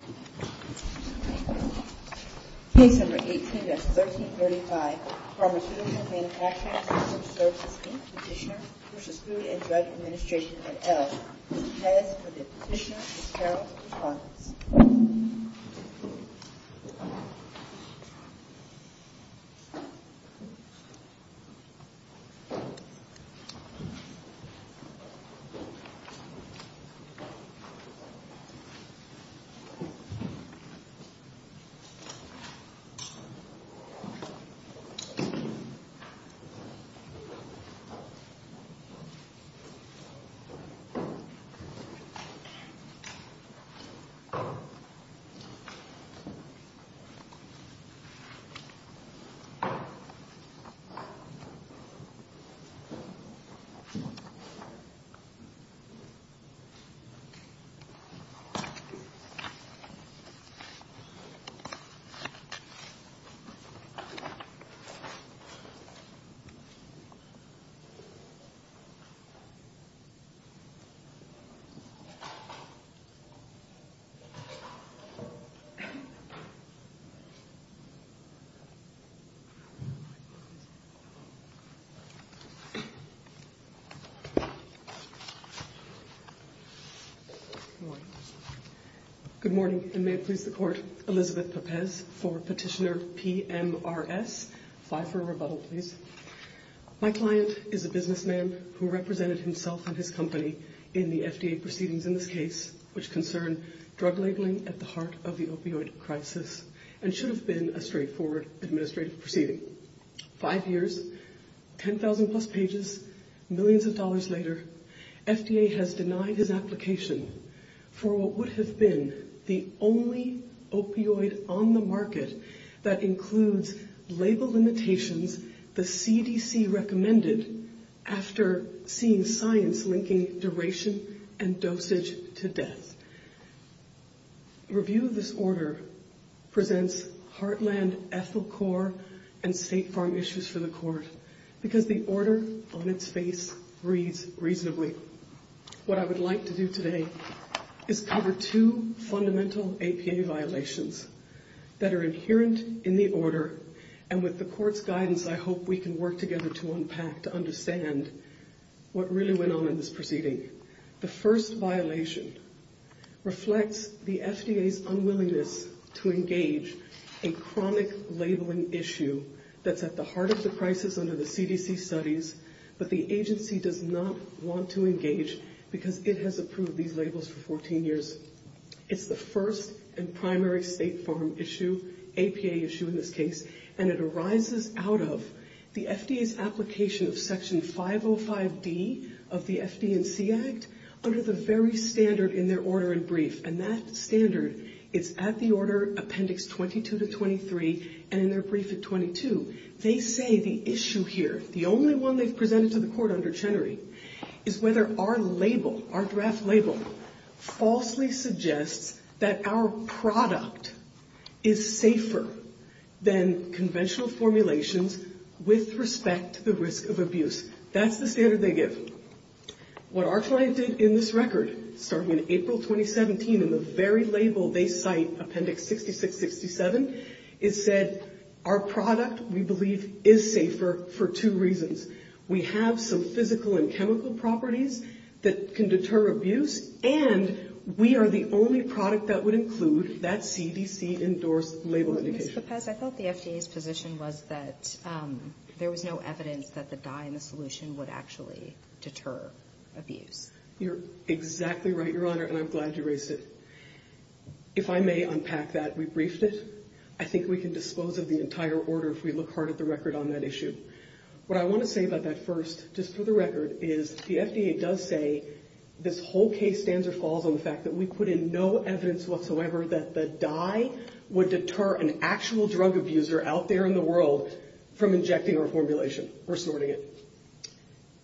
Case No. 18-1335, Pharmaceutical Manufacturing Systems Services, Inc. Petitioner v. Food and Drug Administration, et al. This case for the Petitioner is Carol B. Fox. Please stand by for a moment of silence. Good morning, and may it please the Court, Elizabeth Pepes for Petitioner PMRS. Please stand by for a rebuttal, please. My client is a businessman who represented himself and his company in the FDA proceedings in this case which concern drug labeling at the heart of the opioid crisis and should have been a straightforward administrative proceeding. Five years, 10,000 plus pages, millions of dollars later, FDA has denied his application for what would have been the only opioid on the market that includes label limitations the CDC recommended after seeing science linking duration and dosage to death. Review of this order presents Heartland, Ethylcor, and State Farm issues for the Court because the order on its face reads reasonably. What I would like to do today is cover two fundamental APA violations that are inherent in the order and with the Court's guidance, I hope we can work together to unpack, to understand what really went on in this proceeding. The first violation reflects the FDA's unwillingness to engage in chronic labeling issue that's at the heart of the crisis under the CDC studies, but the agency does not want to engage because it has approved these labels for 14 years. It's the first and primary State Farm issue, APA issue in this case, and it arises out of the FDA's application of Section 505D of the FD&C Act under the very standard in their order and brief, and that standard is at the order appendix 22 to 23 and in their brief at 22. They say the issue here, the only one they've presented to the Court under Chenery, is whether our label, our draft label, falsely suggests that our product is safer than conventional formulations with respect to the risk of abuse. That's the standard they give. What our client did in this record, starting in April 2017, in the very label they cite, appendix 66-67, is said our product, we believe, is safer for two reasons. We have some physical and chemical properties that can deter abuse, and we are the only product that would include that CDC-endorsed label indication. Ms. Lopez, I thought the FDA's position was that there was no evidence that the dye in the solution would actually deter abuse. You're exactly right, Your Honor, and I'm glad you raised it. If I may unpack that, we briefed it. I think we can dispose of the entire order if we look hard at the record on that issue. What I want to say about that first, just for the record, is the FDA does say this whole case stands or falls on the fact that we put in no evidence whatsoever that the dye would deter an actual drug abuser out there in the world from injecting our formulation or sorting it.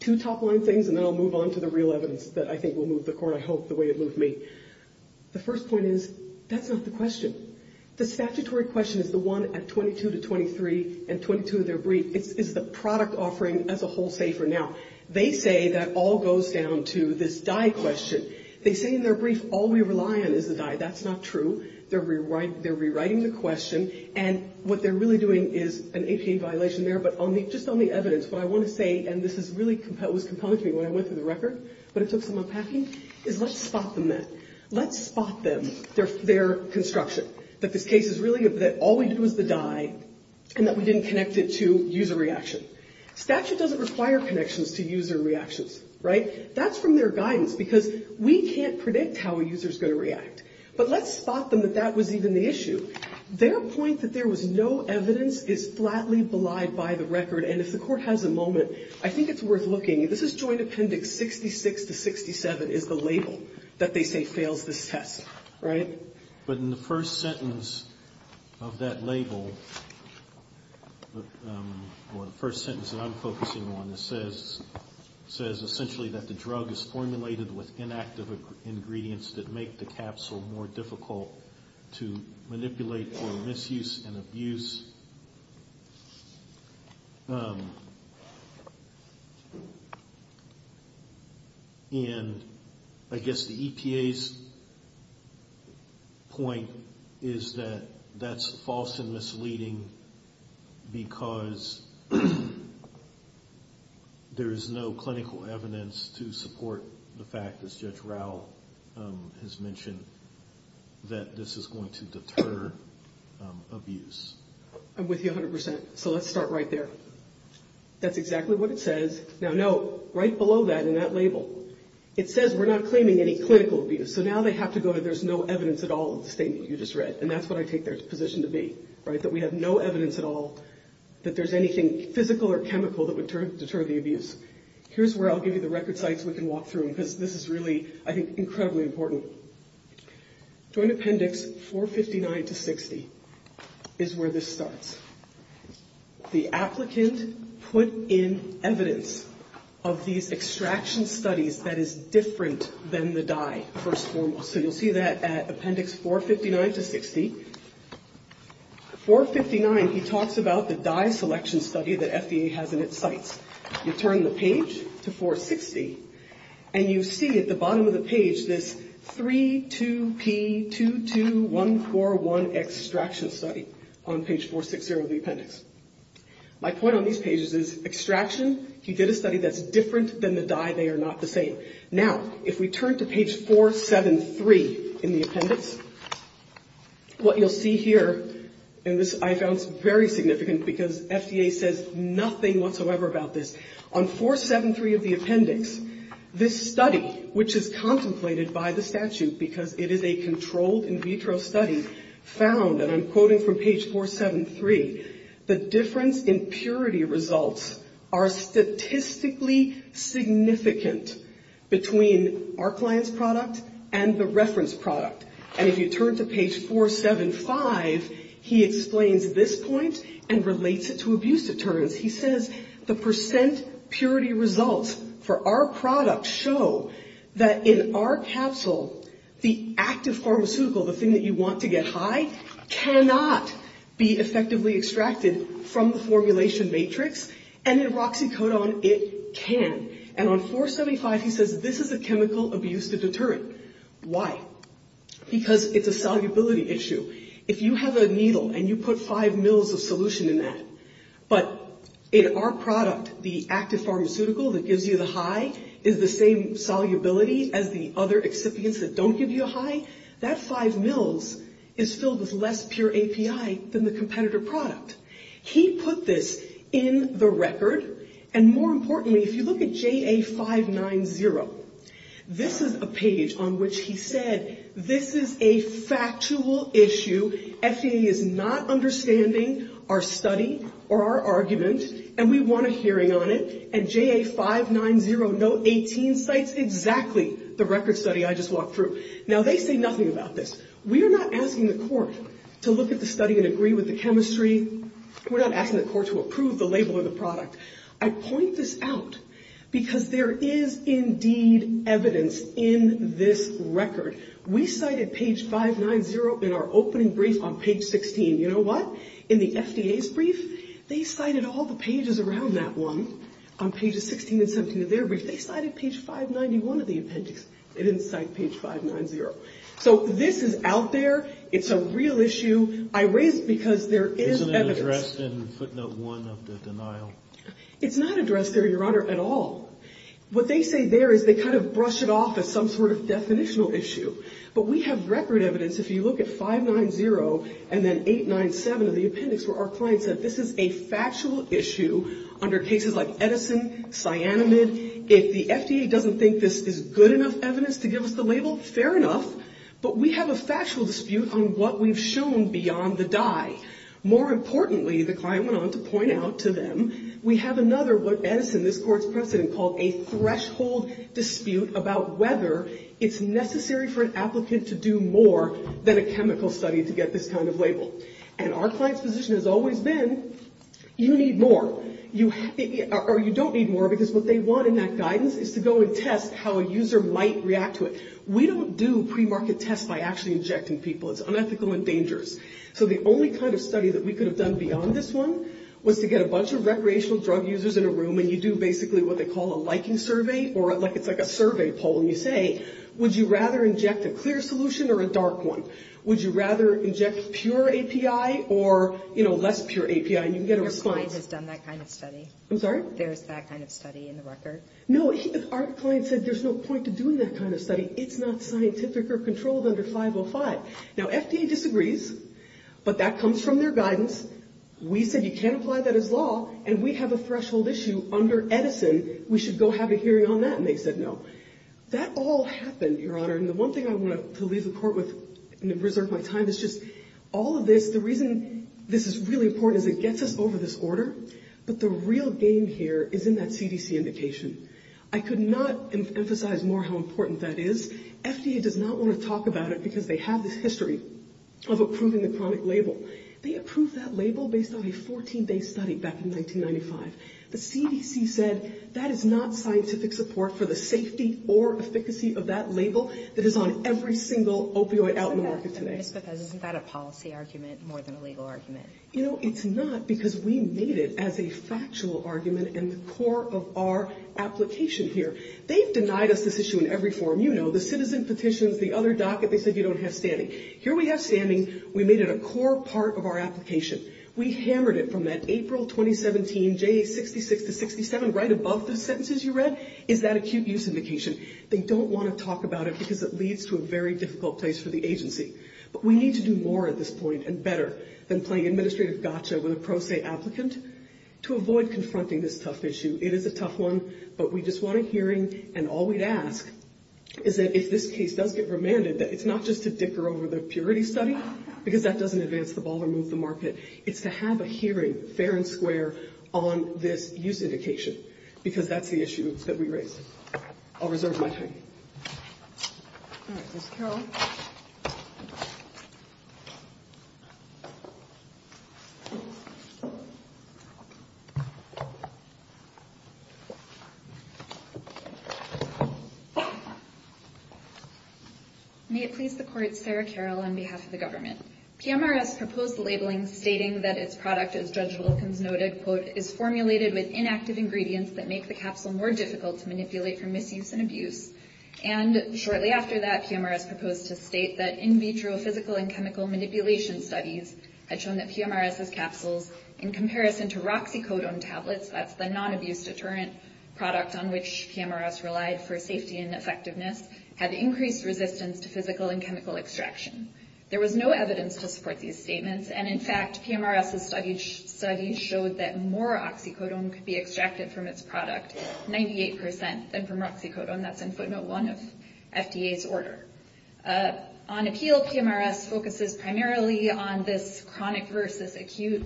Two top-line things, and then I'll move on to the real evidence that I think will move the Court, I hope, the way it moved me. The first point is, that's not the question. The statutory question is the one at 22 to 23 and 22 of their brief. It's the product offering as a whole, say, for now. They say that all goes down to this dye question. They say in their brief, all we rely on is the dye. That's not true. They're rewriting the question, and what they're really doing is an APA violation there. But just on the evidence, what I want to say, and this was really compelling to me when I went through the record, but it took some unpacking, is let's spot them then. That this case is really that all we did was the dye, and that we didn't connect it to user reaction. Statute doesn't require connections to user reactions, right? That's from their guidance, because we can't predict how a user is going to react. But let's spot them that that was even the issue. Their point that there was no evidence is flatly belied by the record, and if the Court has a moment, I think it's worth looking. This is Joint Appendix 66 to 67 is the label that they say fails this test, right? But in the first sentence of that label, or the first sentence that I'm focusing on, it says essentially that the drug is formulated with inactive ingredients that make the capsule more difficult to manipulate for misuse and abuse. And I guess the EPA's point is that that's false and misleading because there is no clinical evidence to support the fact, as Judge Raul has mentioned, that this is going to deter abuse. I'm with you 100%, so let's start right there. That's exactly what it says. Now, note, right below that in that label, it says we're not claiming any clinical abuse. So now they have to go, there's no evidence at all in the statement you just read. And that's what I take their position to be, right? That we have no evidence at all that there's anything physical or chemical that would deter the abuse. Here's where I'll give you the record sites we can walk through, because this is really, I think, incredibly important. Joint Appendix 459 to 60 is where this starts. The applicant put in evidence of these extraction studies that is different than the dye, first and foremost. So you'll see that at Appendix 459 to 60. 459, he talks about the dye selection study that FDA has in its sites. You turn the page to 460, and you see at the bottom of the page this 3-2-P-2-2-1-4-1 extraction study on page 460 of the appendix. My point on these pages is extraction, he did a study that's different than the dye, they are not the same. Now, if we turn to page 473 in the appendix, what you'll see here, and this I found very significant, because FDA says nothing whatsoever about this, on 473 of the appendix, this study, which is contemplated by the statute, because it is a controlled in vitro study, found, and I'm quoting from page 473, the difference in purity results are statistically significant between our client's product and the reference product. And if you turn to page 475, he explains this point and relates it to abuse deterrents. He says the percent purity results for our product show that in our capsule, the active pharmaceutical, the thing that you want to get high, cannot be effectively extracted from the formulation matrix, and in Roxycodone, it can. And on 475, he says this is a chemical abuse deterrent. Why? Because it's a solubility issue. If you have a needle and you put five mils of solution in that, but in our product, the active pharmaceutical that gives you the high is the same solubility as the other excipients that don't give you a high, that five mils is filled with less pure API than the competitor product. He put this in the record, and more importantly, if you look at JA 590, this is a page on which he said, this is a factual issue. FAA is not understanding our study or our argument, and we want a hearing on it. And JA 590, note 18, cites exactly the record study I just walked through. Now, they say nothing about this. We are not asking the court to look at the study and agree with the chemistry. We're not asking the court to approve the label of the product. I point this out because there is indeed evidence in this record. We cited page 590 in our opening brief on page 16. You know what? In the FDA's brief, they cited all the pages around that one on pages 16 and 17 of their brief. They cited page 591 of the appendix. They didn't cite page 590. So this is out there. It's a real issue. I raise it because there is evidence. Isn't it addressed in footnote one of the denial? It's not addressed there, Your Honor, at all. What they say there is they kind of brush it off as some sort of definitional issue. But we have record evidence, if you look at 590 and then 897 of the appendix where our client said, this is a factual issue under cases like Edison, cyanamide. If the FDA doesn't think this is good enough evidence to give us the label, fair enough. But we have a factual dispute on what we've shown beyond the dye. More importantly, the client went on to point out to them, we have another what Edison, this court's precedent, called a threshold dispute about whether it's necessary for an applicant to do more than a chemical study to get this kind of label. And our client's position has always been, you need more. Or you don't need more because what they want in that guidance is to go and test how a user might react to it. We don't do pre-market tests by actually injecting people. It's unethical and dangerous. So the only kind of study that we could have done beyond this one was to get a bunch of recreational drug users in a room and you do basically what they call a liking survey, or it's like a survey poll and you say, would you rather inject a clear solution or a dark one? Would you rather inject pure API or, you know, less pure API? And you can get a response. Your client has done that kind of study. I'm sorry? There's that kind of study in the record. No, our client said there's no point to doing that kind of study. It's not scientific or controlled under 505. Now FDA disagrees, but that comes from their guidance. We said you can't apply that as law. And we have a threshold issue under Edison. We should go have a hearing on that. And they said no. That all happened, Your Honor. And the one thing I want to leave the court with and reserve my time is just all of this, the reason this is really important is it gets us over this order. But the real game here is in that CDC indication. I could not emphasize more how important that is. FDA does not want to talk about it because they have this history of approving the chronic label. They approved that label based on a 14-day study back in 1995. The CDC said that is not scientific support for the safety or efficacy of that label that is on every single opioid out in the market today. Ms. Bethesda, isn't that a policy argument more than a legal argument? You know, it's not because we made it as a factual argument in the core of our application here. They've denied us this issue in every forum. You know, the citizen petitions, the other docket, they said you don't have standing. Here we have standing. We made it a core part of our application. We hammered it from that April 2017 J66 to 67, right above the sentences you read, is that acute use indication. They don't want to talk about it because it leads to a very difficult place for the agency. But we need to do more at this point and better than playing administrative gotcha with a pro se applicant to avoid confronting this tough issue. It is a tough one, but we just want a hearing. And all we'd ask is that if this case does get remanded, that it's not just to dicker over the purity study, because that doesn't advance the ball or move the market. It's to have a hearing, fair and square, on this use indication, because that's the issue that we raised. I'll reserve my time. All right, Ms. Carroll. May it please the court, Sarah Carroll on behalf of the government. PMRS proposed the labeling stating that its product, as Judge Wilkins noted, quote, is formulated with inactive ingredients that make the capsule more difficult to manipulate for misuse and abuse. And shortly after that, PMRS proposed to state that in vitro physical and chemical manipulation studies had shown that PMRS' capsules, in comparison to Roxycodone tablets, that's the non-abuse deterrent product on which PMRS relied for safety and effectiveness, had increased resistance to physical and chemical extraction. There was no evidence to support these statements. And in fact, PMRS' study showed that more Oxycodone could be extracted from its product, 98%, than from Roxycodone. That's in footnote one of FDA's order. On appeal, PMRS focuses primarily on this chronic versus acute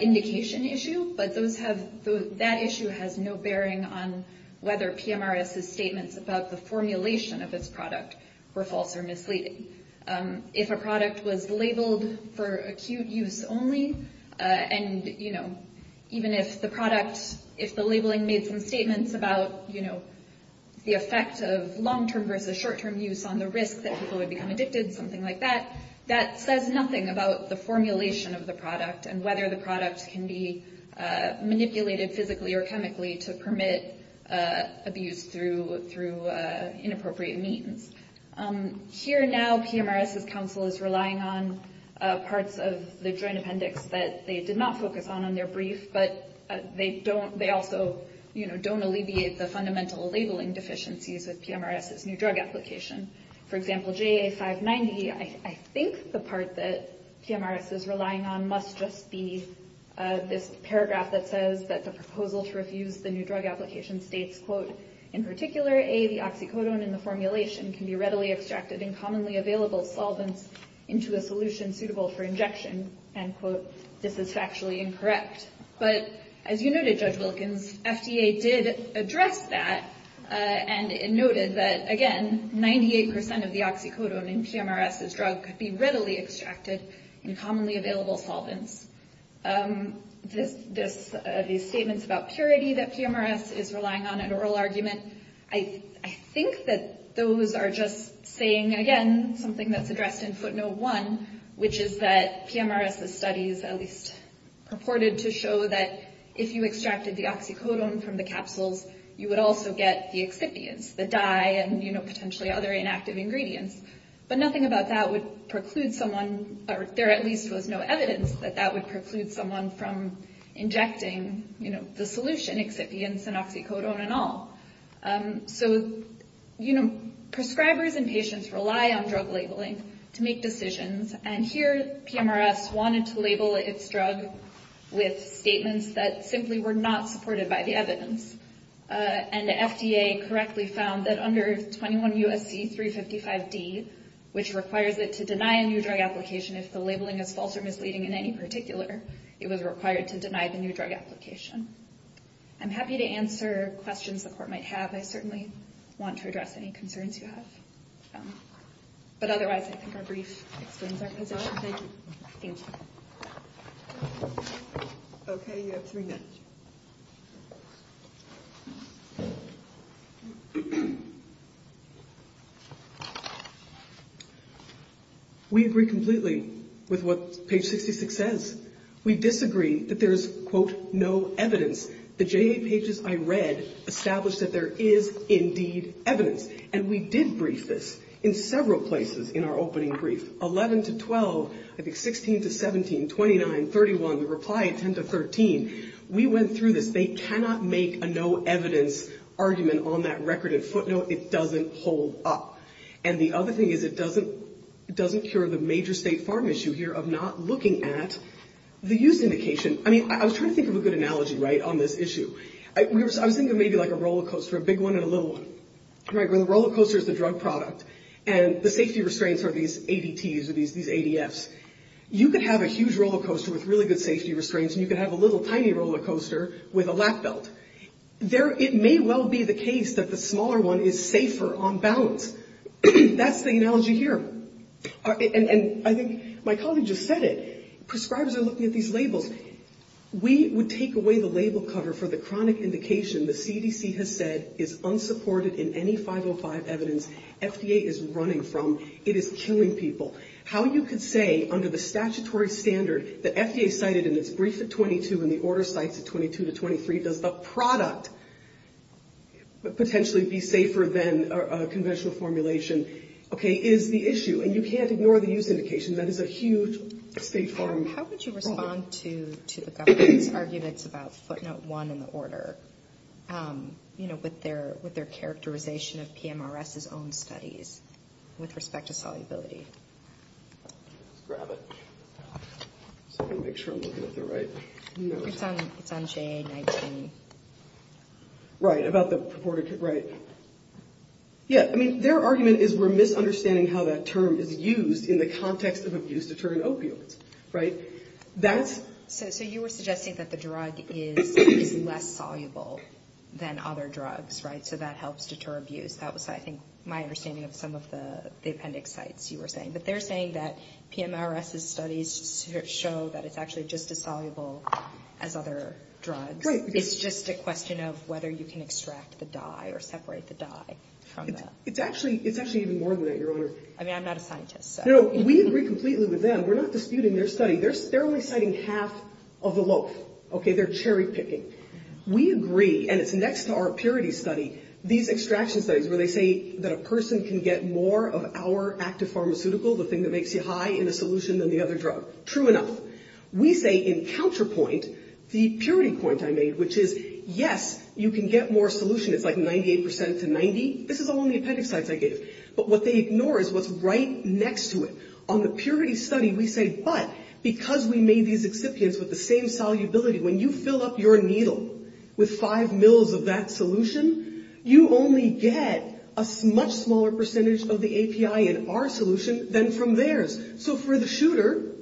indication issue, but that issue has no bearing on whether PMRS' statements about the formulation of its product were false or misleading. If a product was labeled for acute use only, and even if the product, if the labeling made some statements about the effect of long-term versus short-term use on the risk that people would become addicted, something like that, that says nothing about the formulation of the product and whether the product can be manipulated physically or chemically to permit abuse through inappropriate means. Here now, PMRS' counsel is relying on parts of the joint appendix that they did not focus on in their brief, but they also don't alleviate the fundamental labeling deficiencies with PMRS' new drug application. For example, JA590, I think the part that PMRS is relying on must just be this paragraph that says that the proposal to refuse the new drug application states, quote, in particular, A, the oxycodone in the formulation can be readily extracted in commonly available solvents into a solution suitable for injection, end quote. This is factually incorrect. But as you noted, Judge Wilkins, FDA did address that and noted that, again, 98 percent of the oxycodone in PMRS' drug could be readily extracted in commonly available solvents. These statements about purity that PMRS is relying on an oral argument, I think that those are just saying, again, something that's addressed in footnote one, which is that PMRS' studies at least purported to show that if you extracted the oxycodone from the capsules, you would also get the excipients, the dye and potentially other inactive ingredients. But nothing about that would preclude someone or there at least was no evidence that that would preclude someone from injecting, you know, the solution excipients and oxycodone and all. So, you know, prescribers and patients rely on drug labeling to make decisions. And here PMRS wanted to label its drug with statements that simply were not supported by the evidence. And the FDA correctly found that under 21 U.S.C. 355 D, which requires it to deny a new drug application if the labeling is false or misleading in any particular, it was required to deny the new drug application. I'm happy to answer questions the court might have. I certainly want to address any concerns you have. But otherwise, I think our brief explains our position. Thank you. We agree completely with what page 66 says. We disagree that there is, quote, no evidence. The J.A. pages I read established that there is indeed evidence. And we did brief this in several places in our opening brief, 11 to 12, I think 16 to 17, 29, 31, reply 10 to 13. We went through this. They cannot make a no evidence argument on that record and footnote. It doesn't hold up. And the other thing is it doesn't cure the major state farm issue here of not looking at the use indication. I mean, I was trying to think of a good analogy right on this issue. I was thinking of maybe like a rollercoaster, a big one and a little one. The rollercoaster is the drug product and the safety restraints are these ADTs or these ADFs. You could have a huge rollercoaster with really good safety restraints and you could have a little tiny rollercoaster with a lap belt. It may well be the case that the smaller one is safer on balance. That's the analogy here. And I think my colleague just said it. Prescribers are looking at these labels. We would take away the label cover for the chronic indication the CDC has said is unsupported in any 505 evidence FDA is running from. It is killing people. How you could say under the statutory standard that FDA cited in its brief at 22 and the order cites at 22 to 23 does the product potentially be safer than a conventional formulation, okay, is the issue. And you can't ignore the use indication. That is a huge state farm problem. How would you respond to the government's arguments about footnote one in the order, you know, with their characterization of PMRS's own studies with respect to solubility? Let's grab it. Just want to make sure I'm looking at the right notes. It's on JA-19. Right. About the purported, right. Yeah. I mean, their argument is we're misunderstanding how that term is used in the context of abuse-deterring opioids, right? So you were suggesting that the drug is less soluble than other drugs, right? So that helps deter abuse. That was, I think, my understanding of some of the appendix sites you were saying. But they're saying that PMRS's studies show that it's actually just as soluble as other drugs. Right. It's just a question of whether you can extract the dye or separate the dye from that. It's actually even more than that, Your Honor. I mean, I'm not a scientist, so. No, we agree completely with them. We're not disputing their study. They're studying the drug. They're only citing half of the loaf. Okay. They're cherry-picking. We agree, and it's next to our purity study, these extraction studies where they say that a person can get more of our active pharmaceutical, the thing that makes you high, in a solution than the other drug. True enough. We say, in counterpoint, the purity point I made, which is, yes, you can get more solution. It's like 98 percent to 90. This is along the appendix sites I gave. But what they ignore is what's right next to it. On the purity study, we say, but, because we made these excipients with the same solubility, when you fill up your needle with five mils of that solution, you only get a much smaller percentage of the API in our solution than from theirs. So, for the shooter,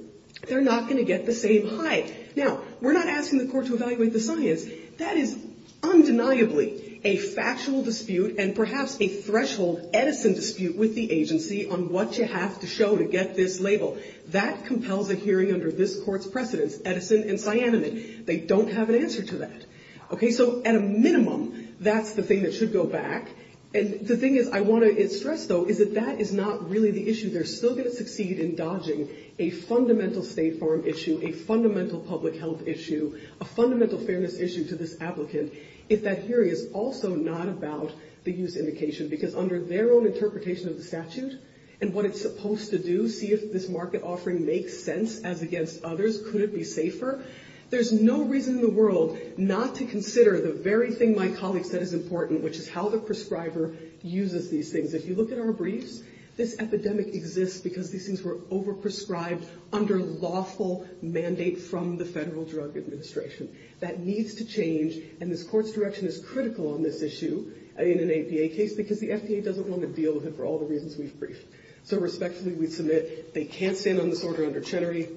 they're not going to get the same high. Now, we're not asking the court to evaluate the science. That is undeniably a factual dispute and perhaps a threshold Edison theory. We're not asking the court to evaluate the science. That is undeniably a factual dispute with the agency on what you have to show to get this label. That compels a hearing under this court's precedence, Edison and Cyanamid. They don't have an answer to that. Okay. So, at a minimum, that's the thing that should go back. And the thing is, I want to stress, though, is that that is not really the issue. They're still going to succeed in dodging a fundamental State Farm issue, a fundamental public health issue, a fundamental fairness issue to this applicant, if that hearing is also not about the use indication. Because under their own interpretation of the statute and what it's supposed to do, see if this market offering makes sense as against others, could it be safer? There's no reason in the world not to consider the very thing my colleague said is important, which is how the prescriber uses these things. If you look at our briefs, this epidemic exists because these things were over-prescribed under lawful mandate from the Federal Drug Administration. That needs to change, and this court's direction is critical on this issue in an APA case, because the FDA doesn't want to deal with it for all the reasons we've briefed. So respectfully, we submit they can't stand on this order under Chenery.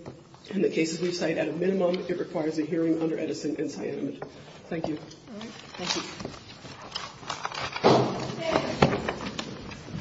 In the cases we cite, at a minimum, it requires a hearing under Edison and Cyanamid. Thank you.